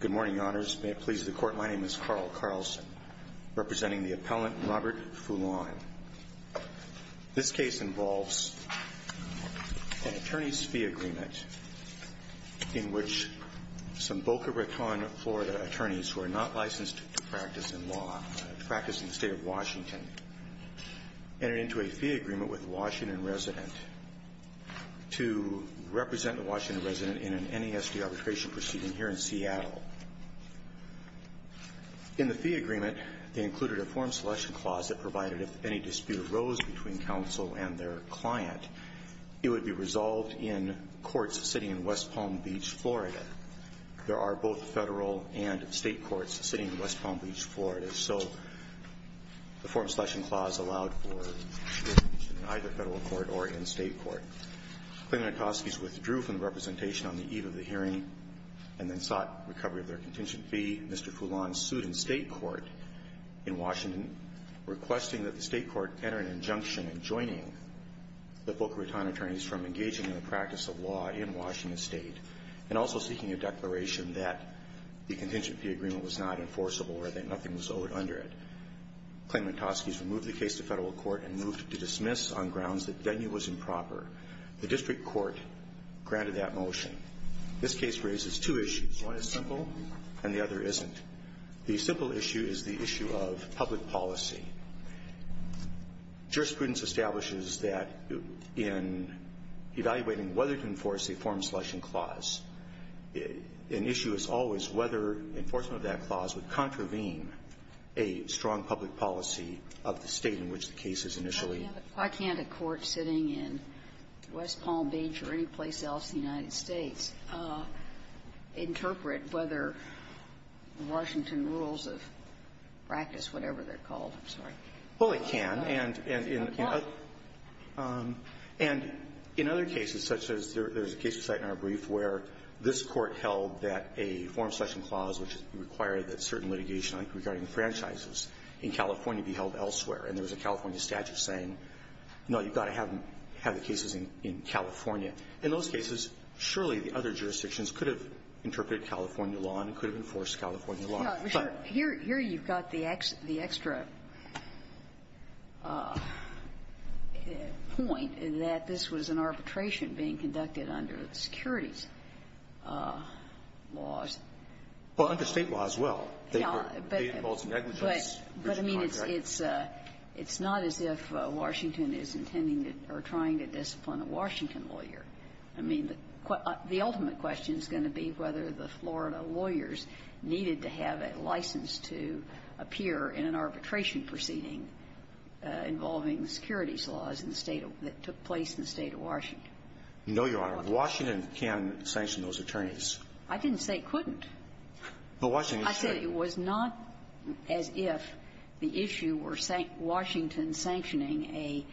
Good morning, Your Honors. May it please the Court, my name is Carl Carlson, representing the appellant Robert Foulon. This case involves an attorney's fee agreement in which some practice in the state of Washington entered into a fee agreement with a Washington resident to represent the Washington resident in an NESD arbitration proceeding here in Seattle. In the fee agreement, they included a form selection clause that provided if any dispute arose between counsel and their client, it would be resolved in courts sitting in West Palm Beach, Florida. So the form selection clause allowed for a dispute in either Federal court or in State court. Klayman and Toskes withdrew from the representation on the eve of the hearing and then sought recovery of their contingent fee. Mr. Foulon sued in State court in Washington, requesting that the State court enter an injunction in joining the Boca Raton attorneys from engaging in the practice of law in Washington State, and also seeking a declaration that the contingent fee agreement was not enforceable or that nothing was owed under it. Klayman and Toskes removed the case to Federal court and moved it to dismiss on grounds that venue was improper. The district court granted that motion. This case raises two issues. One is simple, and the other isn't. The simple issue is the issue of public policy. Jurisprudence establishes that in evaluating whether to enforce a form selection clause, an issue is always whether enforcement of that clause would contravene a strong public policy of the State in which the case is initially Sotomayor, why can't a court sitting in West Palm Beach or anyplace else in the United States interpret whether Washington rules of practice, whatever they're called, I'm sorry. Well, it can. And in other cases, such as there's a case you cite in our brief where this court held that a form selection clause would require that certain litigation regarding franchises in California be held elsewhere, and there's a California statute saying, no, you've got to have the cases in California. In those cases, surely the other jurisdictions could have interpreted California law and could have enforced California law. But here you've got the extra point that this was an arbitration being conducted under the securities laws. Well, under State law as well. Yeah, but they were, they involved negligence. But, I mean, it's not as if Washington is intending or trying to discipline a Washington lawyer. I mean, the ultimate question is going to be whether the Florida lawyers needed to have a license to appear in an arbitration proceeding involving the securities laws in the State that took place in the State of Washington. No, Your Honor. Washington can sanction those attorneys. I didn't say couldn't. But Washington should. I said it was not as if the issue were Washington sanctioning a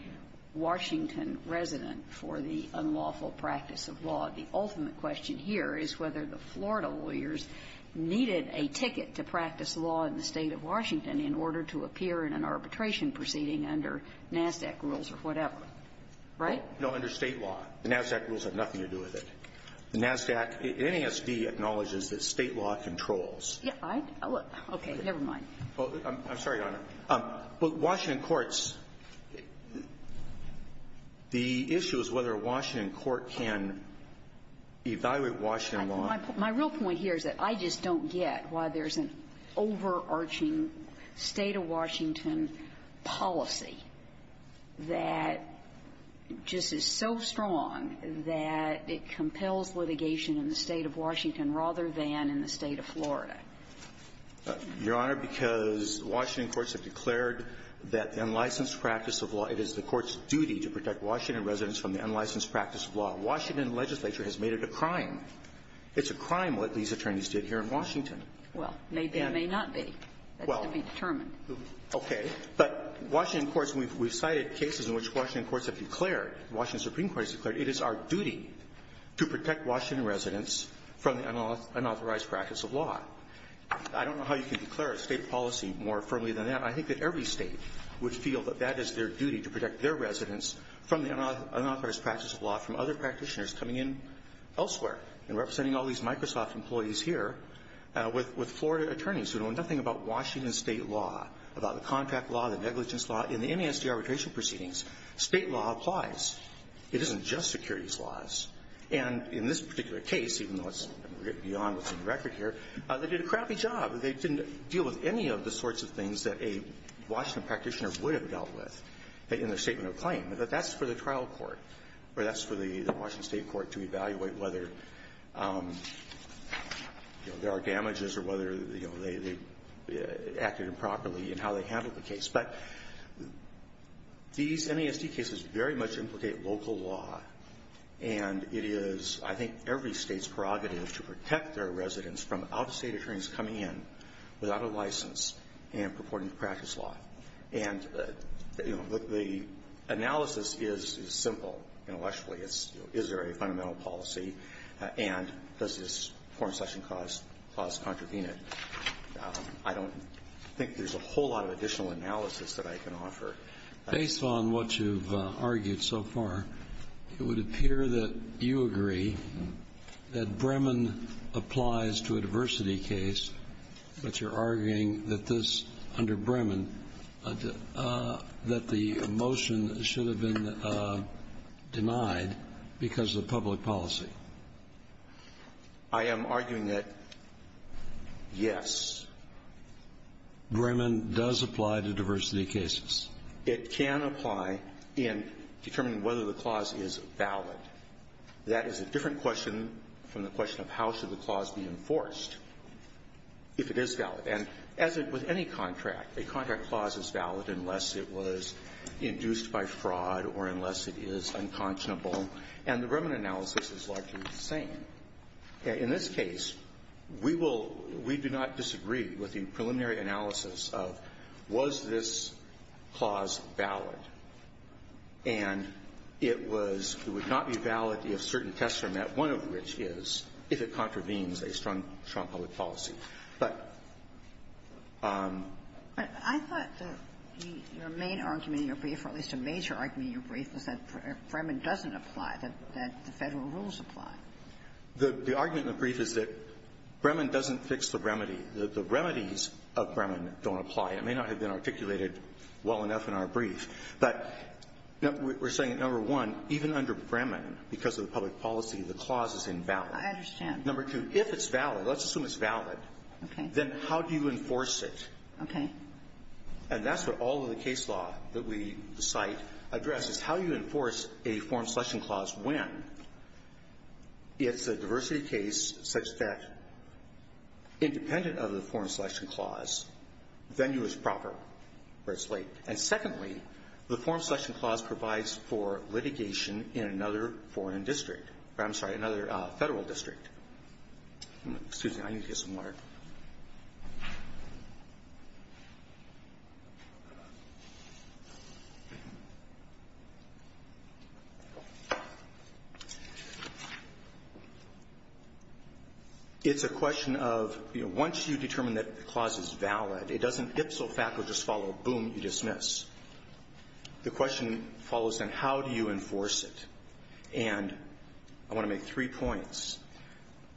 Washington resident for the unlawful practice of law. The ultimate question here is whether the Florida lawyers needed a ticket to practice law in the State of Washington in order to appear in an arbitration proceeding under NASDAQ rules or whatever. Right? No. No, under State law. The NASDAQ rules have nothing to do with it. The NASDAQ, NASD acknowledges that State law controls. Yeah, I, okay, never mind. I'm sorry, Your Honor. But Washington courts, the issue is whether a Washington court can evaluate Washington law. My real point here is that I just don't get why there's an overarching State of Washington policy that just is so strong that it compels litigation in the State of Washington rather than in the State of Florida. Your Honor, because Washington courts have declared that the unlicensed practice of law, it is the court's duty to protect Washington residents from the unlicensed practice of law. Washington legislature has made it a crime. It's a crime what these attorneys did here in Washington. Well, maybe it may not be. That's to be determined. Okay. But Washington courts, we've cited cases in which Washington courts have declared, Washington Supreme Court has declared, it is our duty to protect Washington residents from the unauthorized practice of law. I don't know how you can declare a State policy more firmly than that. I think that every State would feel that that is their duty to protect their residents from the unauthorized practice of law from other practitioners coming in elsewhere and representing all these Microsoft employees here with Florida attorneys who know nothing about Washington State law, about the contract law, the negligence law. In the NIST arbitration proceedings, State law applies. It isn't just securities laws. And in this particular case, even though it's beyond what's in the record here, they did a crappy job. They didn't deal with any of the sorts of things that a Washington practitioner would have dealt with in their statement of claim. But that's for the trial court, or that's for the Washington State court to evaluate whether there are damages or whether they acted improperly in how they handled the case. But these NIST cases very much implicate local law. And it is, I think, every State's prerogative to protect their residents from out-of-State attorneys coming in without a license and purporting to practice law. And the analysis is simple intellectually. Is there a fundamental policy? And does this Foreign Session clause contravene it? I don't think there's a whole lot of additional analysis that I can offer. Based on what you've argued so far, it would appear that you agree that Bremen applies to a diversity case, but you're arguing that this, under Bremen, that the motion should have been denied because of public policy. I am arguing that, yes, Bremen does apply to diversity cases. It can apply in determining whether the clause is valid. That is a different question from the question of how should the clause be enforced if it is valid. And as with any contract, a contract clause is valid unless it was induced by fraud or unless it is unconscionable. And the Bremen analysis is largely the same. In this case, we will we do not disagree with the preliminary analysis of was this clause valid. And it was it would not be valid if certain tests are met, one of which is if it contravenes a strong public policy. But the other thing is that it would not be valid if it contravenes a strong public policy. But I thought that your main argument in your brief, or at least a major argument in your brief, was that Bremen doesn't apply, that the Federal rules apply. The argument in the brief is that Bremen doesn't fix the remedy. The remedies of Bremen don't apply. It may not have been articulated well enough in our brief. But we're saying that, number one, even under Bremen, because of the public policy, the clause is invalid. Ginsburg. I understand. Number two, if it's valid, let's assume it's valid. Okay. Then how do you enforce it? Okay. And that's what all of the case law that we cite addresses. How do you enforce a Foreign Selection Clause when it's a diversity case such that independent of the Foreign Selection Clause, venue is proper or it's late? And secondly, the Foreign Selection Clause provides for litigation in another foreign district. I'm sorry, another Federal district. Excuse me. I need to get some water. It's a question of, you know, once you determine that the clause is valid, it doesn't follow. Boom, you dismiss. The question follows, then, how do you enforce it? And I want to make three points.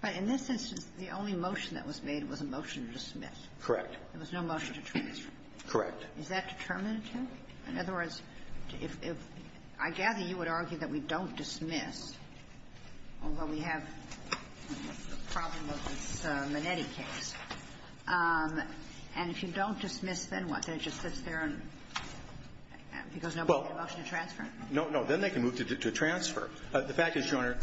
But in this instance, the only motion that was made was a motion to dismiss. Correct. There was no motion to transfer. Correct. Is that determinative? In other words, if I gather you would argue that we don't dismiss, although we have the problem of this Minetti case, and if you don't dismiss, then what? Then it just sits there and goes, no, but the motion to transfer. No. No. Then they can move to transfer. The fact is, Your Honor.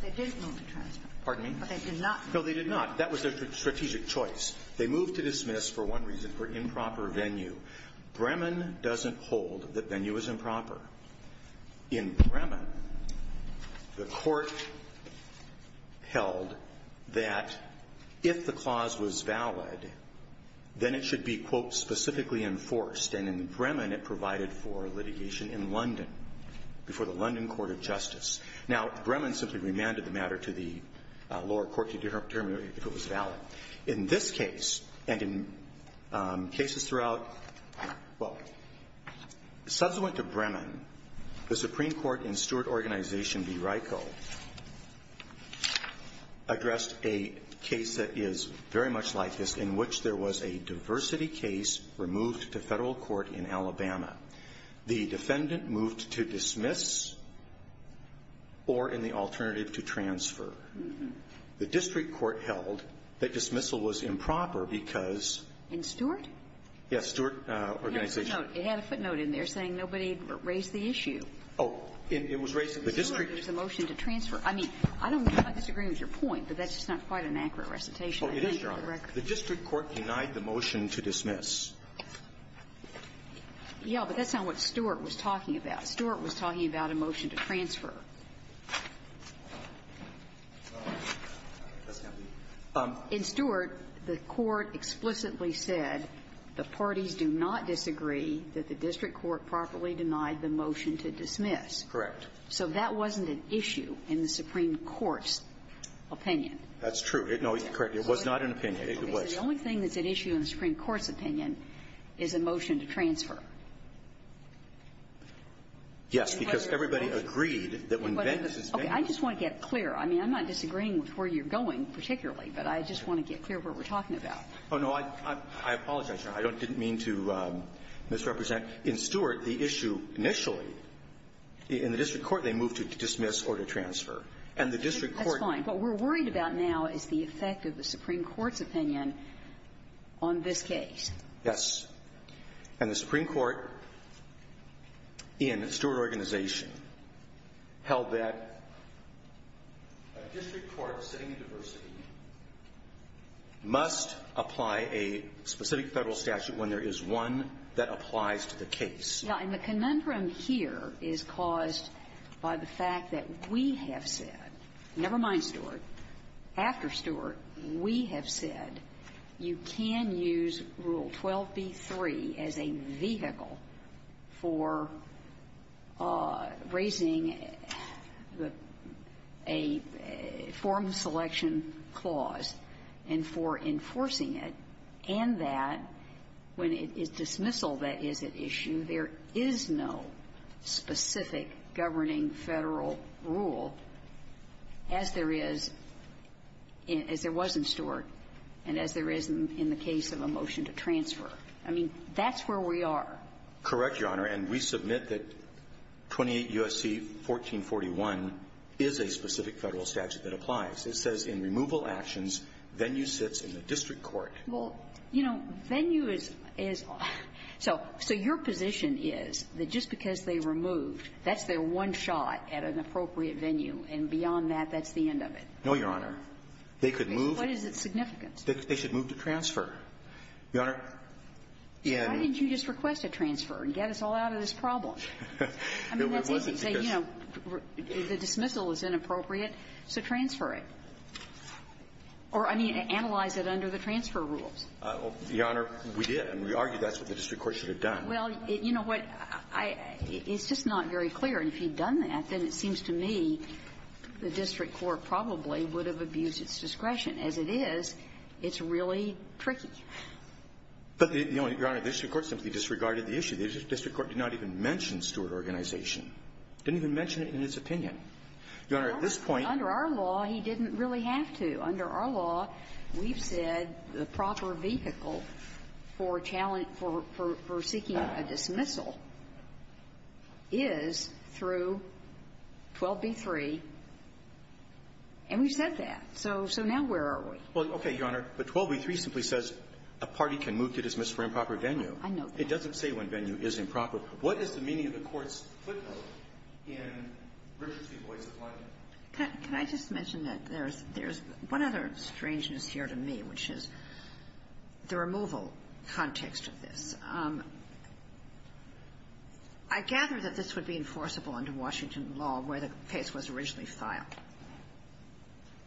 But they didn't move to transfer. Pardon me? But they did not move to transfer. No, they did not. That was their strategic choice. They moved to dismiss for one reason, for improper venue. Bremen doesn't hold that venue is improper. In Bremen, the Court held that if the clause was valid, then it should be, quote, specifically enforced. And in Bremen, it provided for litigation in London before the London Court of Justice. Now, Bremen simply remanded the matter to the lower court to determine if it was valid. Now, in this case, and in cases throughout, well, subsequent to Bremen, the Supreme Court and Stewart Organization v. RICO addressed a case that is very much like this, in which there was a diversity case removed to federal court in Alabama. The defendant moved to dismiss or, in the alternative, to transfer. The district court held that dismissal was improper because ---- In Stewart? Yes, Stewart Organization. It had a footnote. It had a footnote in there saying nobody raised the issue. Oh, it was raised in the district. The motion to transfer. I mean, I don't know if I disagree with your point, but that's just not quite an accurate recitation. Oh, it is, Your Honor. The district court denied the motion to dismiss. Yeah, but that's not what Stewart was talking about. Stewart was talking about a motion to transfer. In Stewart, the court explicitly said the parties do not disagree that the district court properly denied the motion to dismiss. Correct. So that wasn't an issue in the Supreme Court's opinion. That's true. No, correct. It was not an opinion. It was. The only thing that's an issue in the Supreme Court's opinion is a motion to transfer. Yes, because everybody agreed that when Venks is ---- Okay. I just want to get clear. I mean, I'm not disagreeing with where you're going particularly, but I just want to get clear what we're talking about. Oh, no. I apologize, Your Honor. I didn't mean to misrepresent. In Stewart, the issue initially in the district court, they moved to dismiss or to transfer. And the district court ---- That's fine. What we're worried about now is the effect of the Supreme Court's opinion on this case. Yes. And the Supreme Court in Stewart Organization held that a district court sitting in diversity must apply a specific Federal statute when there is one that applies to the case. Now, and the conundrum here is caused by the fact that we have said, never mind Stewart, after Stewart, we have said you can use Rule 12b-3 as a vehicle for raising the ---- a form selection clause and for enforcing it, and that when it is dismissal, that is an issue. There is no specific governing Federal rule as there is in ---- as there was in Stewart and as there is in the case of a motion to transfer. I mean, that's where we are. Correct, Your Honor. And we submit that 28 U.S.C. 1441 is a specific Federal statute that applies. It says in removal actions, venue sits in the district court. Well, you know, venue is ---- so your position is that just because they removed, that's their one shot at an appropriate venue, and beyond that, that's the end of it? No, Your Honor. They could move to ---- What is its significance? They should move to transfer. Your Honor, the ---- Why didn't you just request a transfer and get us all out of this problem? I mean, that's easy to say, you know, the dismissal is inappropriate, so transfer it. Or, I mean, analyze it under the transfer rules. Your Honor, we did, and we argued that's what the district court should have done. Well, you know what? I ---- it's just not very clear. And if he'd done that, then it seems to me the district court probably would have abused its discretion. As it is, it's really tricky. But, Your Honor, the district court simply disregarded the issue. The district court did not even mention Stewart Organization. Didn't even mention it in its opinion. Your Honor, at this point ---- Well, we don't really have to. Under our law, we've said the proper vehicle for challenge ---- for seeking a dismissal is through 12b-3, and we've said that. So now where are we? Well, okay, Your Honor. But 12b-3 simply says a party can move to dismiss for improper venue. I know that. It doesn't say when venue is improper. What is the meaning of the Court's footnote in Richard v. Boyce of London? Can I just mention that there's one other strangeness here to me, which is the removal context of this. I gather that this would be enforceable under Washington law where the case was originally filed.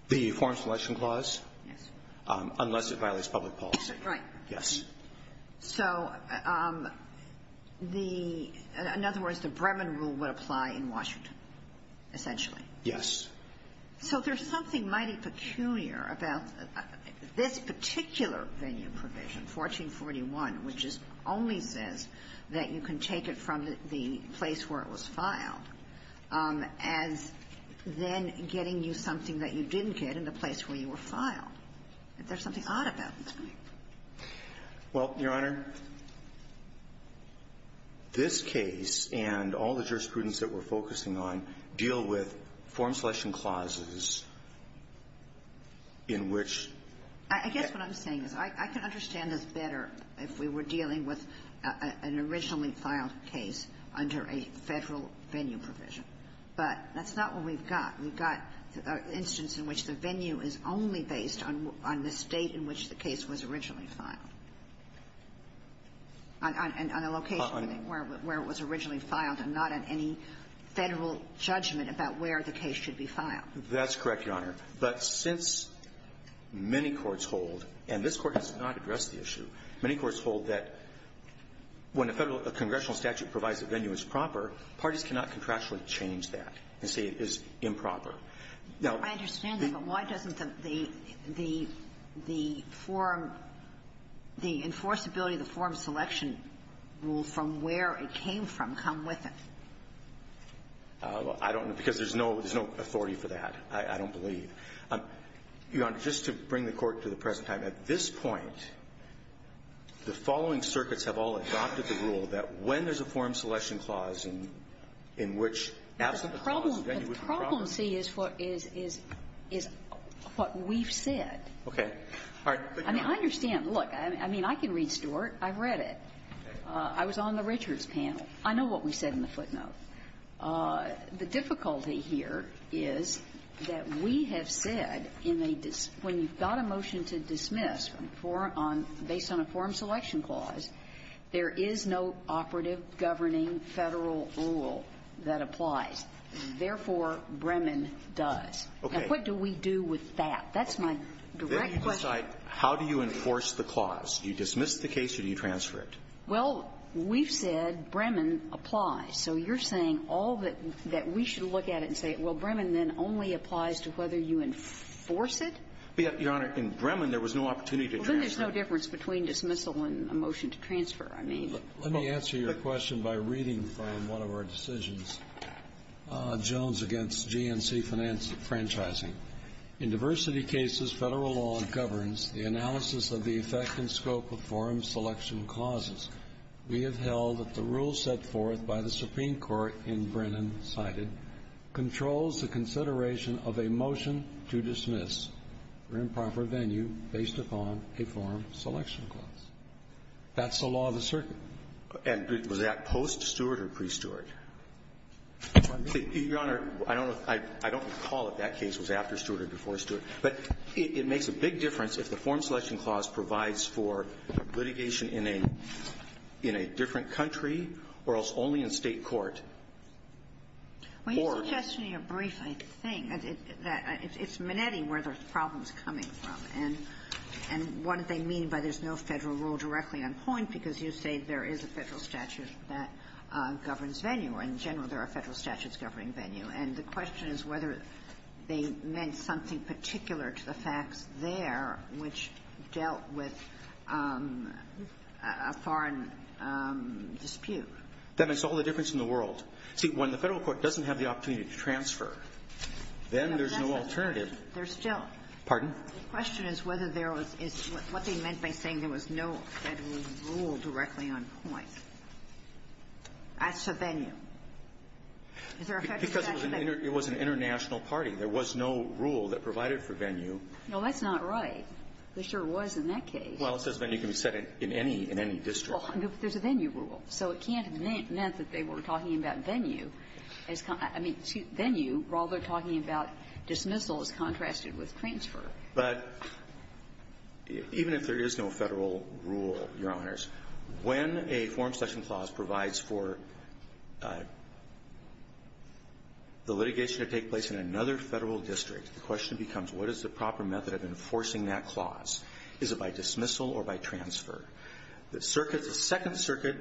The Foreign Selection Clause? Yes. Unless it violates public policy. Right. Yes. So the ---- in other words, the Bremen rule would apply in Washington, essentially. Yes. So there's something mighty peculiar about this particular venue provision, 1441, which just only says that you can take it from the place where it was filed as then getting you something that you didn't get in the place where you were filed. Is there something odd about this? Well, Your Honor, this case and all the jurisprudence that we're focusing on deal with Foreign Selection Clauses in which ---- I guess what I'm saying is I can understand this better if we were dealing with an originally filed case under a Federal venue provision. But that's not what we've got. We've got an instance in which the venue is only based on the state in which the case was originally filed, on a location where it was originally filed and not on any Federal judgment about where the case should be filed. That's correct, Your Honor. But since many courts hold, and this Court has not addressed the issue, many courts hold that when a Federal congressional statute provides a venue as proper, parties cannot contractually change that and say it is improper. Now ---- I understand that. But why doesn't the ---- the forum ---- the enforceability of the forum selection rule from where it came from come with it? I don't know, because there's no authority for that. I don't believe. Your Honor, just to bring the Court to the present time, at this point, the following circuits have all adopted the rule that when there's a forum selection clause in which ---- The problem, see, is what we've said. Okay. I mean, I understand. Look, I mean, I can read Stewart. I've read it. I was on the Richards panel. I know what we said in the footnote. The difficulty here is that we have said in a ---- when you've got a motion to dismiss on a forum ---- based on a forum selection clause, there is no operative governing Federal rule that applies. Therefore, Bremen does. Okay. Now, what do we do with that? That's my direct question. Then you decide how do you enforce the clause. Do you dismiss the case or do you transfer it? Well, we've said Bremen applies. So you're saying all that we should look at it and say, well, Bremen then only applies to whether you enforce it? Your Honor, in Bremen, there was no opportunity to transfer. Well, then there's no difference between dismissal and a motion to transfer. I mean ---- Let me answer your question by reading from one of our decisions, Jones v. GNC Franchising. In diversity cases, Federal law governs the analysis of the effect and scope of forum selection clauses. We have held that the rule set forth by the Supreme Court in Bremen cited controls the consideration of a motion to dismiss for improper venue based upon a forum selection clause. That's the law of the circuit. And was that post-Stewart or pre-Stewart? Your Honor, I don't know. I don't recall if that case was after Stewart or before Stewart. But it makes a big difference if the forum selection clause provides for litigation in a different country or else only in State court. Or ---- Well, you're suggesting a brief, I think. It's Manetti where the problem's coming from. And what do they mean by there's no Federal rule directly on point because you say there is a Federal statute that governs venue. In general, there are Federal statutes governing venue. And the question is whether they meant something particular to the facts there which dealt with a foreign dispute. That makes all the difference in the world. See, when the Federal court doesn't have the opportunity to transfer, then there's no alternative. There's still ---- Pardon? The question is whether there was what they meant by saying there was no Federal rule directly on point as to venue. Is there a Federal statute that ---- Because it was an international party. There was no rule that provided for venue. No, that's not right. There sure was in that case. Well, it says venue can be set in any ---- in any district. Well, no, but there's a venue rule. So it can't have meant that they were talking about venue as con ---- I mean, venue rather than talking about dismissal as contrasted with transfer. But even if there is no Federal rule, Your Honors, when a forum selection clause provides for the litigation to take place in another Federal district, the question becomes what is the proper method of enforcing that clause? Is it by dismissal or by transfer? The circuits, the Second Circuit,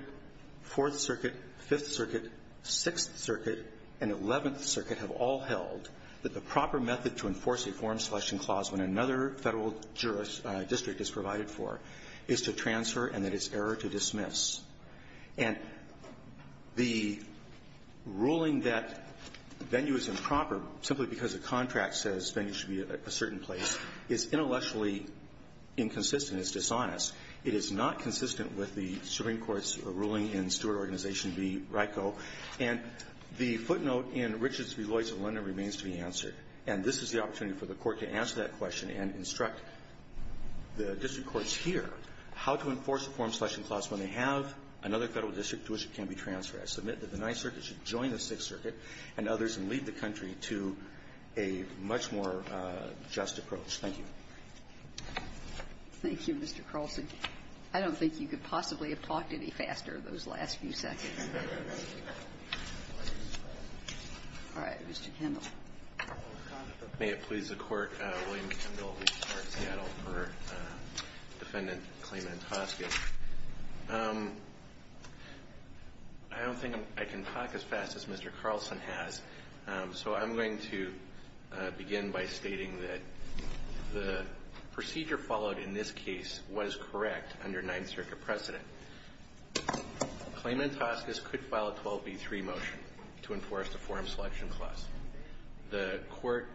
Fourth Circuit, Fifth Circuit, Sixth Circuit, and Eleventh Circuit have all held that the proper method to enforce a forum selection clause when another Federal district is provided for is to transfer and that it's error to dismiss. And the ruling that venue is improper simply because a contract says venue should be at a certain place is intellectually inconsistent. It's dishonest. It is not consistent with the Supreme Court's ruling in Stewart Organization v. RICO. And the footnote in Richards v. Lloyds of London remains to be answered. And this is the opportunity for the Court to answer that question and instruct the district courts here how to enforce a forum selection clause when they have another Federal district to which it can be transferred. I submit that the Ninth Circuit should join the Sixth Circuit and others and lead the country to a much more just approach. Thank you. Thank you, Mr. Carlson. I don't think you could possibly have talked any faster those last few seconds. All right. Mr. Kendall. May it please the Court, William Kendall, Seattle, for Defendant Clement Hoskin. I don't think I can talk as fast as Mr. Carlson has. So I'm going to begin by stating that the procedure followed in this case was correct under Ninth Circuit precedent. Clement Hoskins could file a 12B3 motion to enforce the forum selection clause. The Court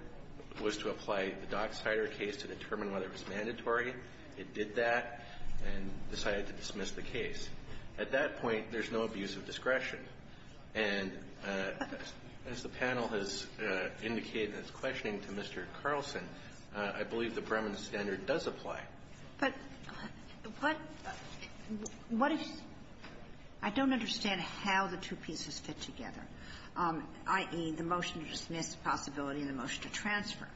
was to apply the Dock Cider case to determine whether it was mandatory. It did that. And decided to dismiss the case. At that point, there's no abuse of discretion. And as the panel has indicated in its questioning to Mr. Carlson, I believe the Bremen standard does apply. But what if you don't understand how the two pieces fit together, i.e., the motion to dismiss, the possibility of the motion to transfer.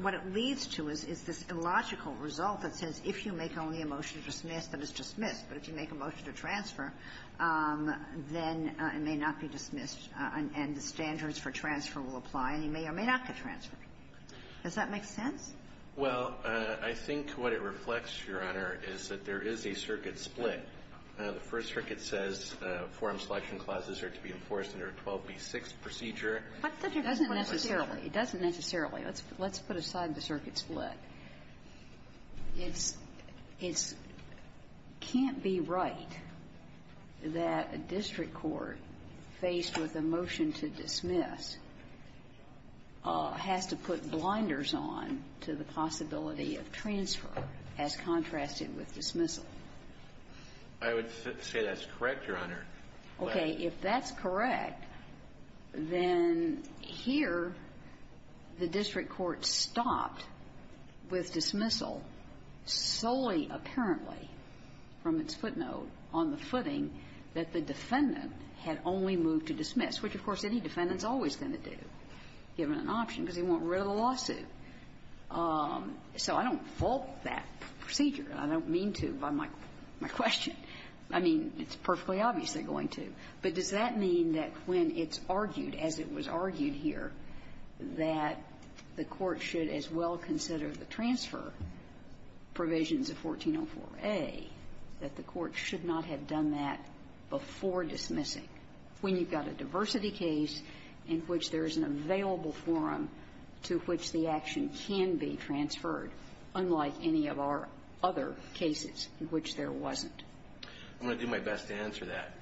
What it leads to is this illogical result that says if you make only a motion to dismiss, that it's dismissed. But if you make a motion to transfer, then it may not be dismissed and the standards for transfer will apply and you may or may not get transferred. Does that make sense? Well, I think what it reflects, Your Honor, is that there is a circuit split. The First Circuit says forum selection clauses are to be enforced under a 12B6 procedure. What's the difference between those two? It doesn't necessarily. Let's put aside the circuit split. It's can't be right that a district court faced with a motion to dismiss has to put blinders on to the possibility of transfer as contrasted with dismissal. I would say that's correct, Your Honor. Okay. If that's correct, then here the district court stopped with dismissal solely apparently from its footnote on the footing that the defendant had only moved to dismiss, which, of course, any defendant is always going to do, given an option, because he won't rid of the lawsuit. So I don't fault that procedure. I don't mean to by my question. I mean, it's perfectly obvious they're going to. But does that mean that when it's argued, as it was argued here, that the court should as well consider the transfer provisions of 1404A, that the court should not have done that before dismissing, when you've got a diversity case in which there is an available forum to which the action can be transferred, unlike any of our other cases in which there wasn't? I'm going to do my best to answer that.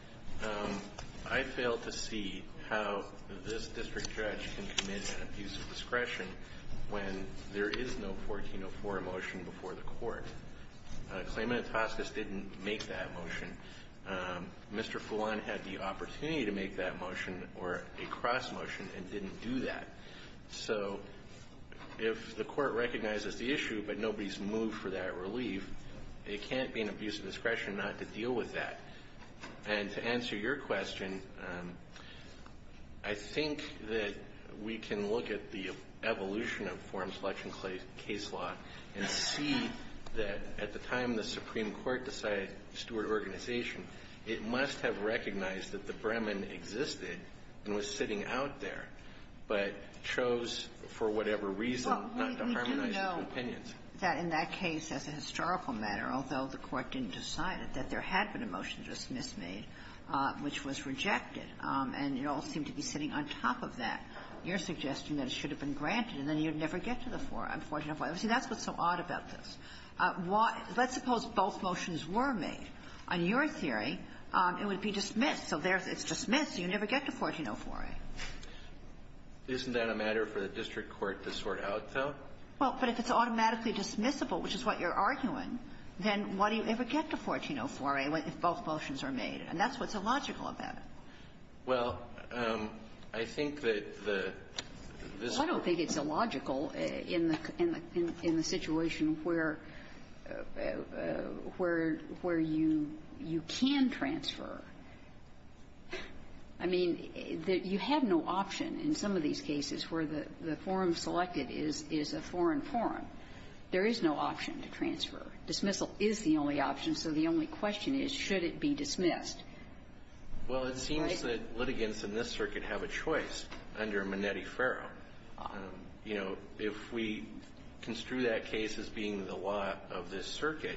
I fail to see how this district judge can commit an abuse of discretion when there is no 1404A motion before the court. Claimant Etoskes didn't make that motion. Mr. Fulan had the opportunity to make that motion, or a cross-motion, and didn't do that. So if the court recognizes the issue, but nobody's moved for that relief, it can't be an abuse of discretion not to deal with that. And to answer your question, I think that we can look at the evolution of forum selection case law and see that at the time the Supreme Court decided steward organization, it must have recognized that the Bremen existed and was sitting out there, but chose for whatever reason not to harmonize its opinions. That in that case, as a historical matter, although the court didn't decide it, that there had been a motion just mis-made, which was rejected, and it all seemed to be sitting on top of that. You're suggesting that it should have been granted, and then you'd never get to the forum, 1404A. See, that's what's so odd about this. Let's suppose both motions were made. On your theory, it would be dismissed. So there it's dismissed, so you never get to 1404A. Isn't that a matter for the district court to sort out, though? Well, but if it's automatically dismissible, which is what you're arguing, then why do you ever get to 1404A if both motions are made? And that's what's illogical about it. Well, I think that the visit to the court was a matter of the district court. Well, I don't think it's illogical in the situation where you can transfer. I mean, you had no option in some of these cases where the forum selected is a forum forum. There is no option to transfer. Dismissal is the only option, so the only question is, should it be dismissed? Well, it seems that litigants in this circuit have a choice under Minetti-Ferro. You know, if we construe that case as being the law of this circuit,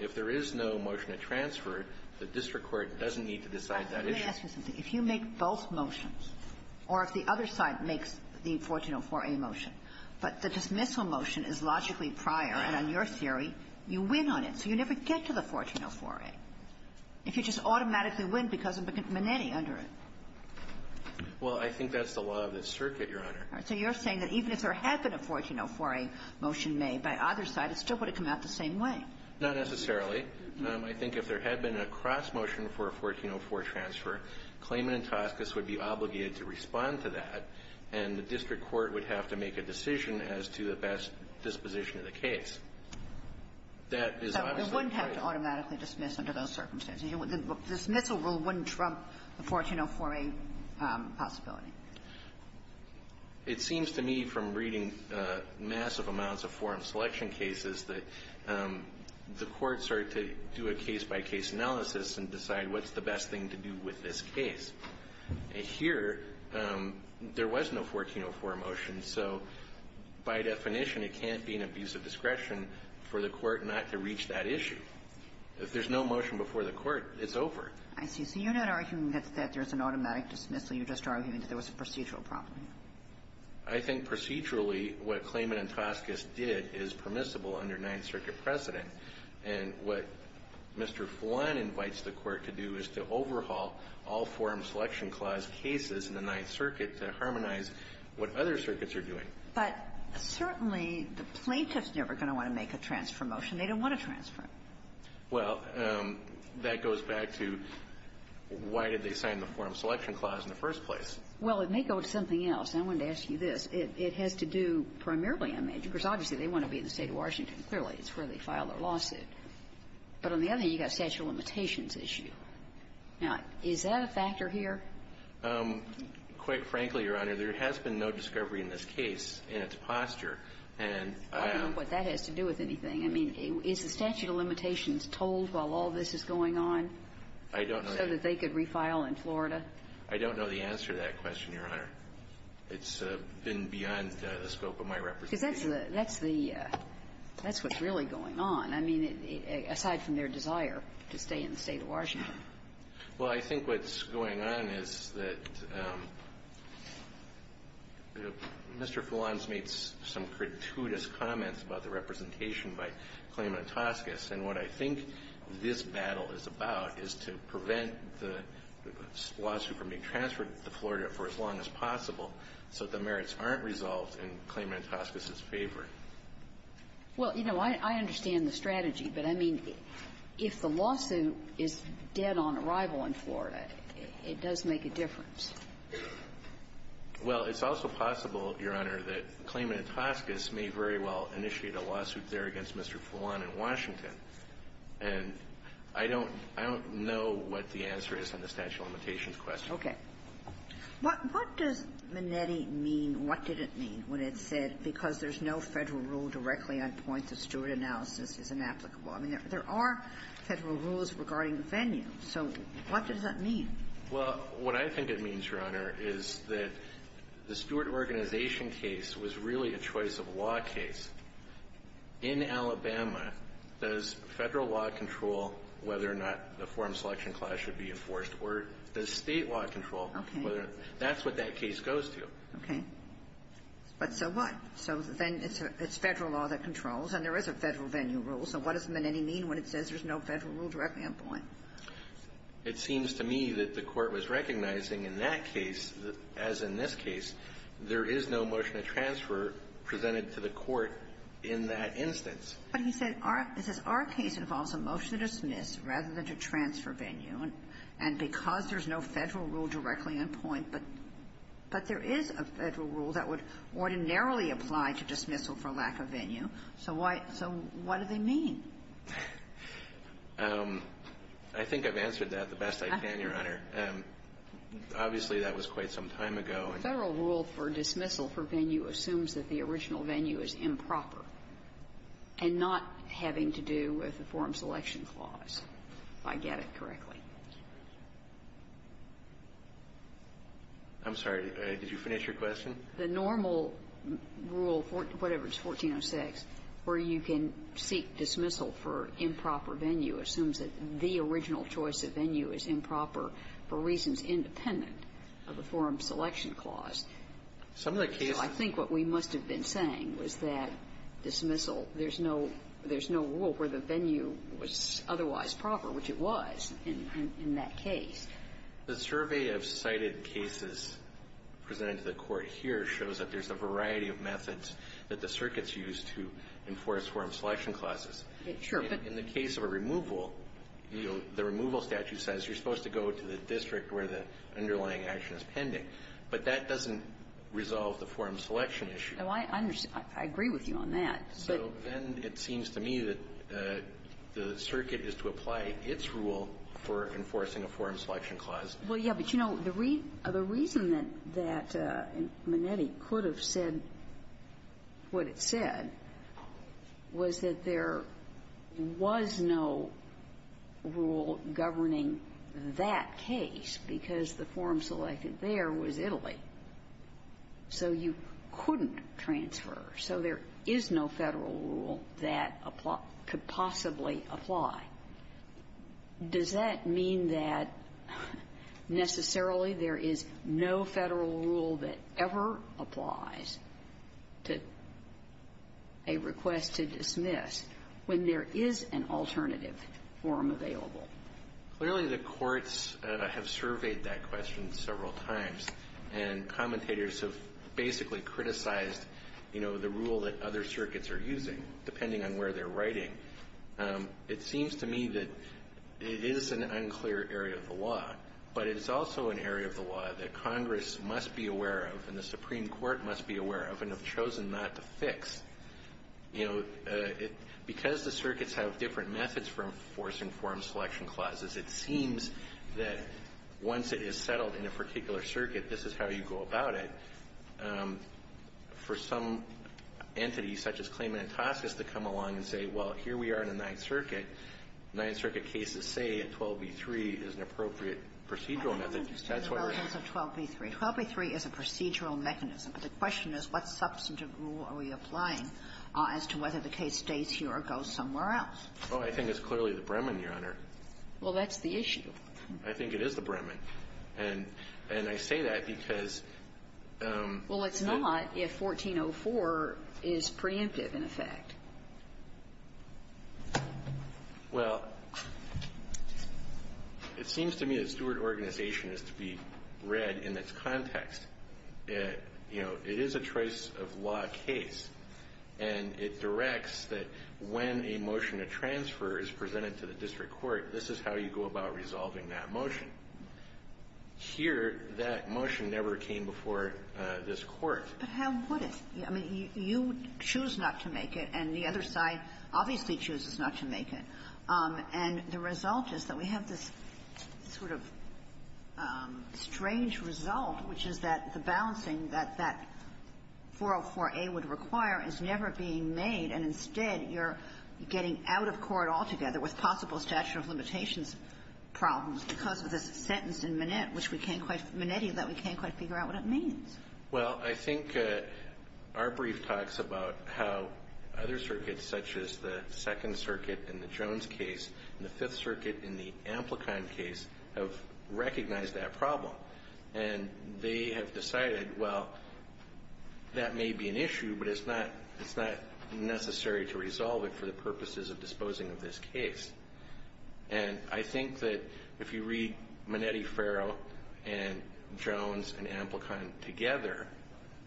if there is no motion to transfer, the district court doesn't need to decide that issue. Let me ask you something. If you make both motions, or if the other side makes the 1404A motion, but the district court says the dismissal motion is logically prior and on your theory, you win on it, so you never get to the 1404A, if you just automatically win because of Minetti under it. Well, I think that's the law of this circuit, Your Honor. So you're saying that even if there had been a 1404A motion made by either side, it still would have come out the same way? Not necessarily. I think if there had been a cross-motion for a 1404 transfer, Clayman and Toscas would be obligated to respond to that, and the district court would have to make a decision as to the best disposition of the case. That is obviously the case. So it wouldn't have to automatically dismiss under those circumstances. The dismissal rule wouldn't trump the 1404A possibility. It seems to me from reading massive amounts of forum selection cases that the courts are to do a case-by-case analysis and decide what's the best thing to do with this case. Here, there was no 1404A motion, so by definition, it can't be an abuse of discretion for the court not to reach that issue. If there's no motion before the court, it's over. I see. So you're not arguing that there's an automatic dismissal. You're just arguing that there was a procedural problem. I think procedurally, what Clayman and Toscas did is permissible under Ninth Circuit precedent. And what Mr. Flan invites the court to do is to overhaul all forum selection clause cases in the Ninth Circuit to harmonize what other circuits are doing. But certainly, the plaintiff's never going to want to make a transfer motion. They don't want to transfer it. Well, that goes back to why did they sign the forum selection clause in the first place? Well, it may go to something else. I wanted to ask you this. It has to do primarily, I mean, because obviously, they want to be in the State of Washington. Clearly, it's where they filed their lawsuit. But on the other hand, you've got a statute of limitations issue. Now, is that a factor here? Quite frankly, Your Honor, there has been no discovery in this case in its posture. And I don't know what that has to do with anything. I mean, is the statute of limitations told while all this is going on? I don't know. So that they could refile in Florida? I don't know the answer to that question, Your Honor. It's been beyond the scope of my representation. Because that's the, that's what's really going on. I mean, aside from their desire to stay in the State of Washington. Well, I think what's going on is that Mr. Fulons made some gratuitous comments about the representation by Clayman and Toscas. And what I think this battle is about is to prevent the lawsuit from being transferred to Florida for as long as possible so that the merits aren't resolved and Clayman and Toscas is favored. Well, you know, I understand the strategy. But I mean, if the lawsuit is dead on arrival in Florida, it does make a difference. Well, it's also possible, Your Honor, that Clayman and Toscas may very well initiate a lawsuit there against Mr. Fulon in Washington. And I don't, I don't know what the answer is on the statute of limitations question. Okay. What, what does Minetti mean, what did it mean when it said because there's no Federal rule directly on points of steward analysis is inapplicable? I mean, there are Federal rules regarding the venue. So what does that mean? Well, what I think it means, Your Honor, is that the steward organization case was really a choice-of-law case. In Alabama, does Federal law control whether or not the forum selection clause should be enforced? Or does State law control whether or not that's what that case goes to? Okay. But so what? So then it's Federal law that controls, and there is a Federal venue rule. So what does Minetti mean when it says there's no Federal rule directly on point? It seems to me that the Court was recognizing in that case, as in this case, there is no motion to transfer presented to the Court in that instance. But he said our, he says our case involves a motion to dismiss rather than to transfer a venue, and because there's no Federal rule directly on point, but there is a Federal rule that would ordinarily apply to dismissal for lack of venue. So why, so what do they mean? I think I've answered that the best I can, Your Honor. Obviously, that was quite some time ago. A Federal rule for dismissal for venue assumes that the original venue is improper and not having to do with the forum selection clause. If I get it correctly. I'm sorry. Did you finish your question? The normal rule, whatever, it's 1406, where you can seek dismissal for improper venue assumes that the original choice of venue is improper for reasons independent of the forum selection clause. Some of the cases So I think what we must have been saying was that dismissal, there's no rule where the venue was otherwise proper, which it was in that case. The survey of cited cases presented to the Court here shows that there's a variety of methods that the circuits use to enforce forum selection clauses. Sure. But in the case of a removal, you know, the removal statute says you're supposed to go to the district where the underlying action is pending. But that doesn't resolve the forum selection issue. I agree with you on that. So then it seems to me that the circuit is to apply its rule for enforcing a forum selection clause. Well, yeah. But, you know, the reason that Manetti could have said what it said was that there was no rule governing that case, because the forum selected there was Italy. So you couldn't transfer. So there is no Federal rule that could possibly apply. Does that mean that necessarily there is no Federal rule that ever applies to a request to dismiss when there is an alternative forum available? Clearly, the courts have surveyed that question several times. And commentators have basically criticized, you know, the rule that other circuits are using, depending on where they're writing. It seems to me that it is an unclear area of the law. But it is also an area of the law that Congress must be aware of and the Supreme Court must be aware of and have chosen not to fix. You know, because the circuits have different methods for enforcing forum selection clauses, it seems that once it is settled in a particular circuit, this is how you go about it. For some entities, such as Klayman and Toskis, to come along and say, well, here we are in the Ninth Circuit, Ninth Circuit cases say that 12b-3 is an appropriate procedural method. That's why we're going to go with 12b-3. 12b-3 is a procedural mechanism. But the question is, what substantive rule are we applying as to whether the case stays here or goes somewhere else? Oh, I think it's clearly the Bremen, Your Honor. Well, that's the issue. I think it is the Bremen. And I say that because the ---- Well, it's not if 1404 is preemptive, in effect. Well, it seems to me that steward organization is to be read in its context. You know, it is a choice-of-law case, and it directs that when a motion to transfer is presented to the district court, this is how you go about resolving that motion. Here, that motion never came before this Court. But how would it? I mean, you choose not to make it, and the other side obviously chooses not to make it. And the result is that we have this sort of strange result, which is that the balancing that that 404a would require is never being made, and instead, you're getting out of court altogether with possible statute of limitations problems because of this sentence in Manette, which we can't quite figure out what it means. Well, I think our brief talks about how other circuits, such as the Second Circuit in the Jones case and the Fifth Circuit in the Amplicon case, have recognized that problem. And they have decided, well, that may be an issue, but it's not necessary to resolve it for the purposes of disposing of this case. And I think that if you read Manette-Ferro and Jones and Amplicon together,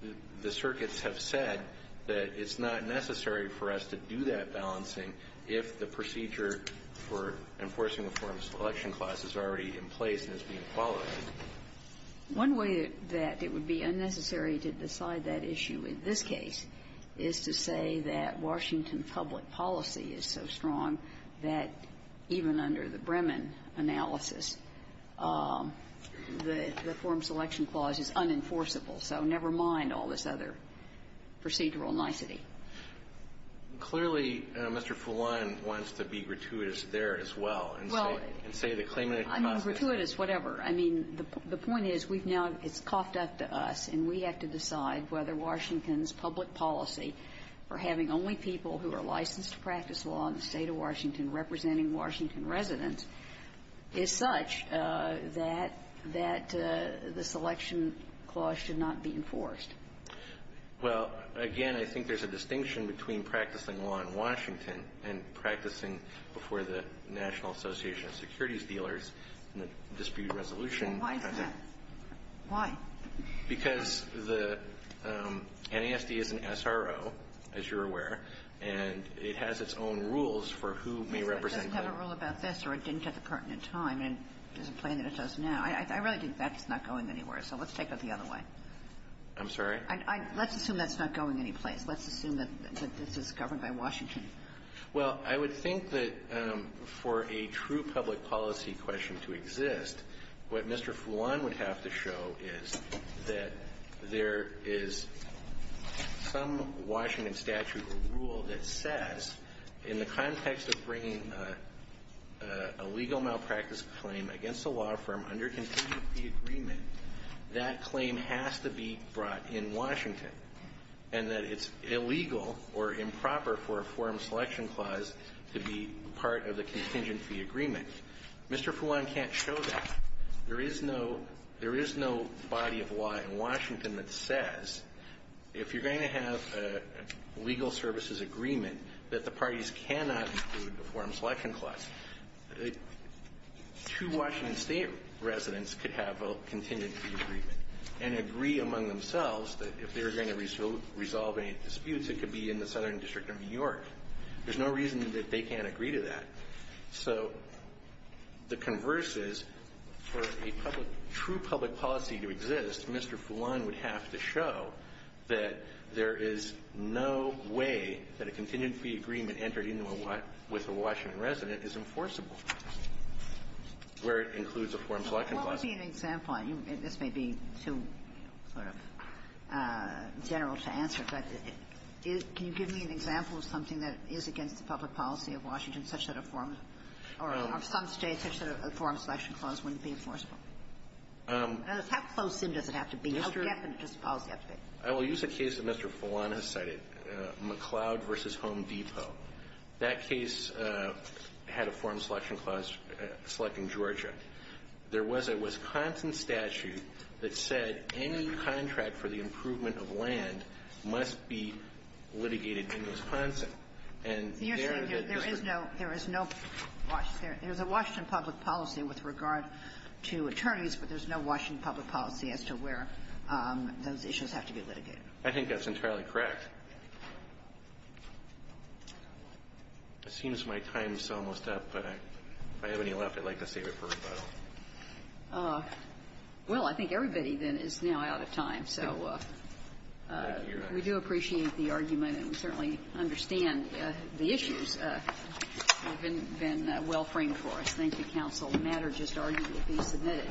the procedure for enforcing the Form Selection Clause is already in place and is being followed. One way that it would be unnecessary to decide that issue in this case is to say that Washington public policy is so strong that even under the Bremen analysis, the Form Selection Clause is unenforceable. So never mind all this other procedural nicety. Clearly, Mr. Fulon wants to be gratuitous there as well and say the claimant can cause this. Well, I mean, gratuitous, whatever. I mean, the point is, we've now got to, it's coughed up to us, and we have to decide whether Washington's public policy for having only people who are licensed to practice law in the State of Washington representing Washington residents is such that the Selection Clause should not be enforced. Well, again, I think there's a distinction between practicing law in Washington and practicing before the National Association of Securities Dealers in the dispute resolution. Why is that? Why? Because the NASD is an SRO, as you're aware, and it has its own rules for who may represent who. It doesn't have a rule about this, or it didn't get the pertinent time, and it doesn't plan that it does now. I really think that's not going anywhere, so let's take it the other way. I'm sorry? Let's assume that's not going anyplace. Let's assume that this is governed by Washington. Well, I would think that for a true public policy question to exist, what Mr. Fulan would have to show is that there is some Washington statute or rule that says in the context of bringing a legal malpractice claim against a law firm under continuity agreement, that claim has to be brought in Washington, and that it's illegal or improper for a forum selection clause to be part of the contingency agreement. Mr. Fulan can't show that. There is no body of law in Washington that says if you're going to have a legal services agreement that the parties cannot include a forum selection clause. Two Washington State residents could have a contingency agreement and agree among themselves that if they were going to resolve any disputes, it could be in the Southern District of New York. There's no reason that they can't agree to that. So the converse is for a public – true public policy to exist, Mr. Fulan would have to show that there is no way that a contingency agreement entered into a – with a forum selection clause would be enforceable, where it includes a forum selection clause. Well, what would be an example – and this may be too sort of general to answer, but can you give me an example of something that is against the public policy of Washington such that a forum – or some State such that a forum selection clause wouldn't be enforceable? How close in does it have to be? How definite does the policy have to be? I will use a case that Mr. Fulan has cited, McCloud v. Home Depot. That case had a forum selection clause selecting Georgia. There was a Wisconsin statute that said any contract for the improvement of land must be litigated in Wisconsin. And there, the district – You're saying there is no – there is no – there's a Washington public policy with regard to attorneys, but there's no Washington public policy as to where those issues have to be litigated. I think that's entirely correct. It seems my time is almost up, but if I have any left, I'd like to save it for rebuttal. Well, I think everybody, then, is now out of time. So we do appreciate the argument and certainly understand the issues have been well framed for us. Thank you, counsel. The matter just argued to be submitted.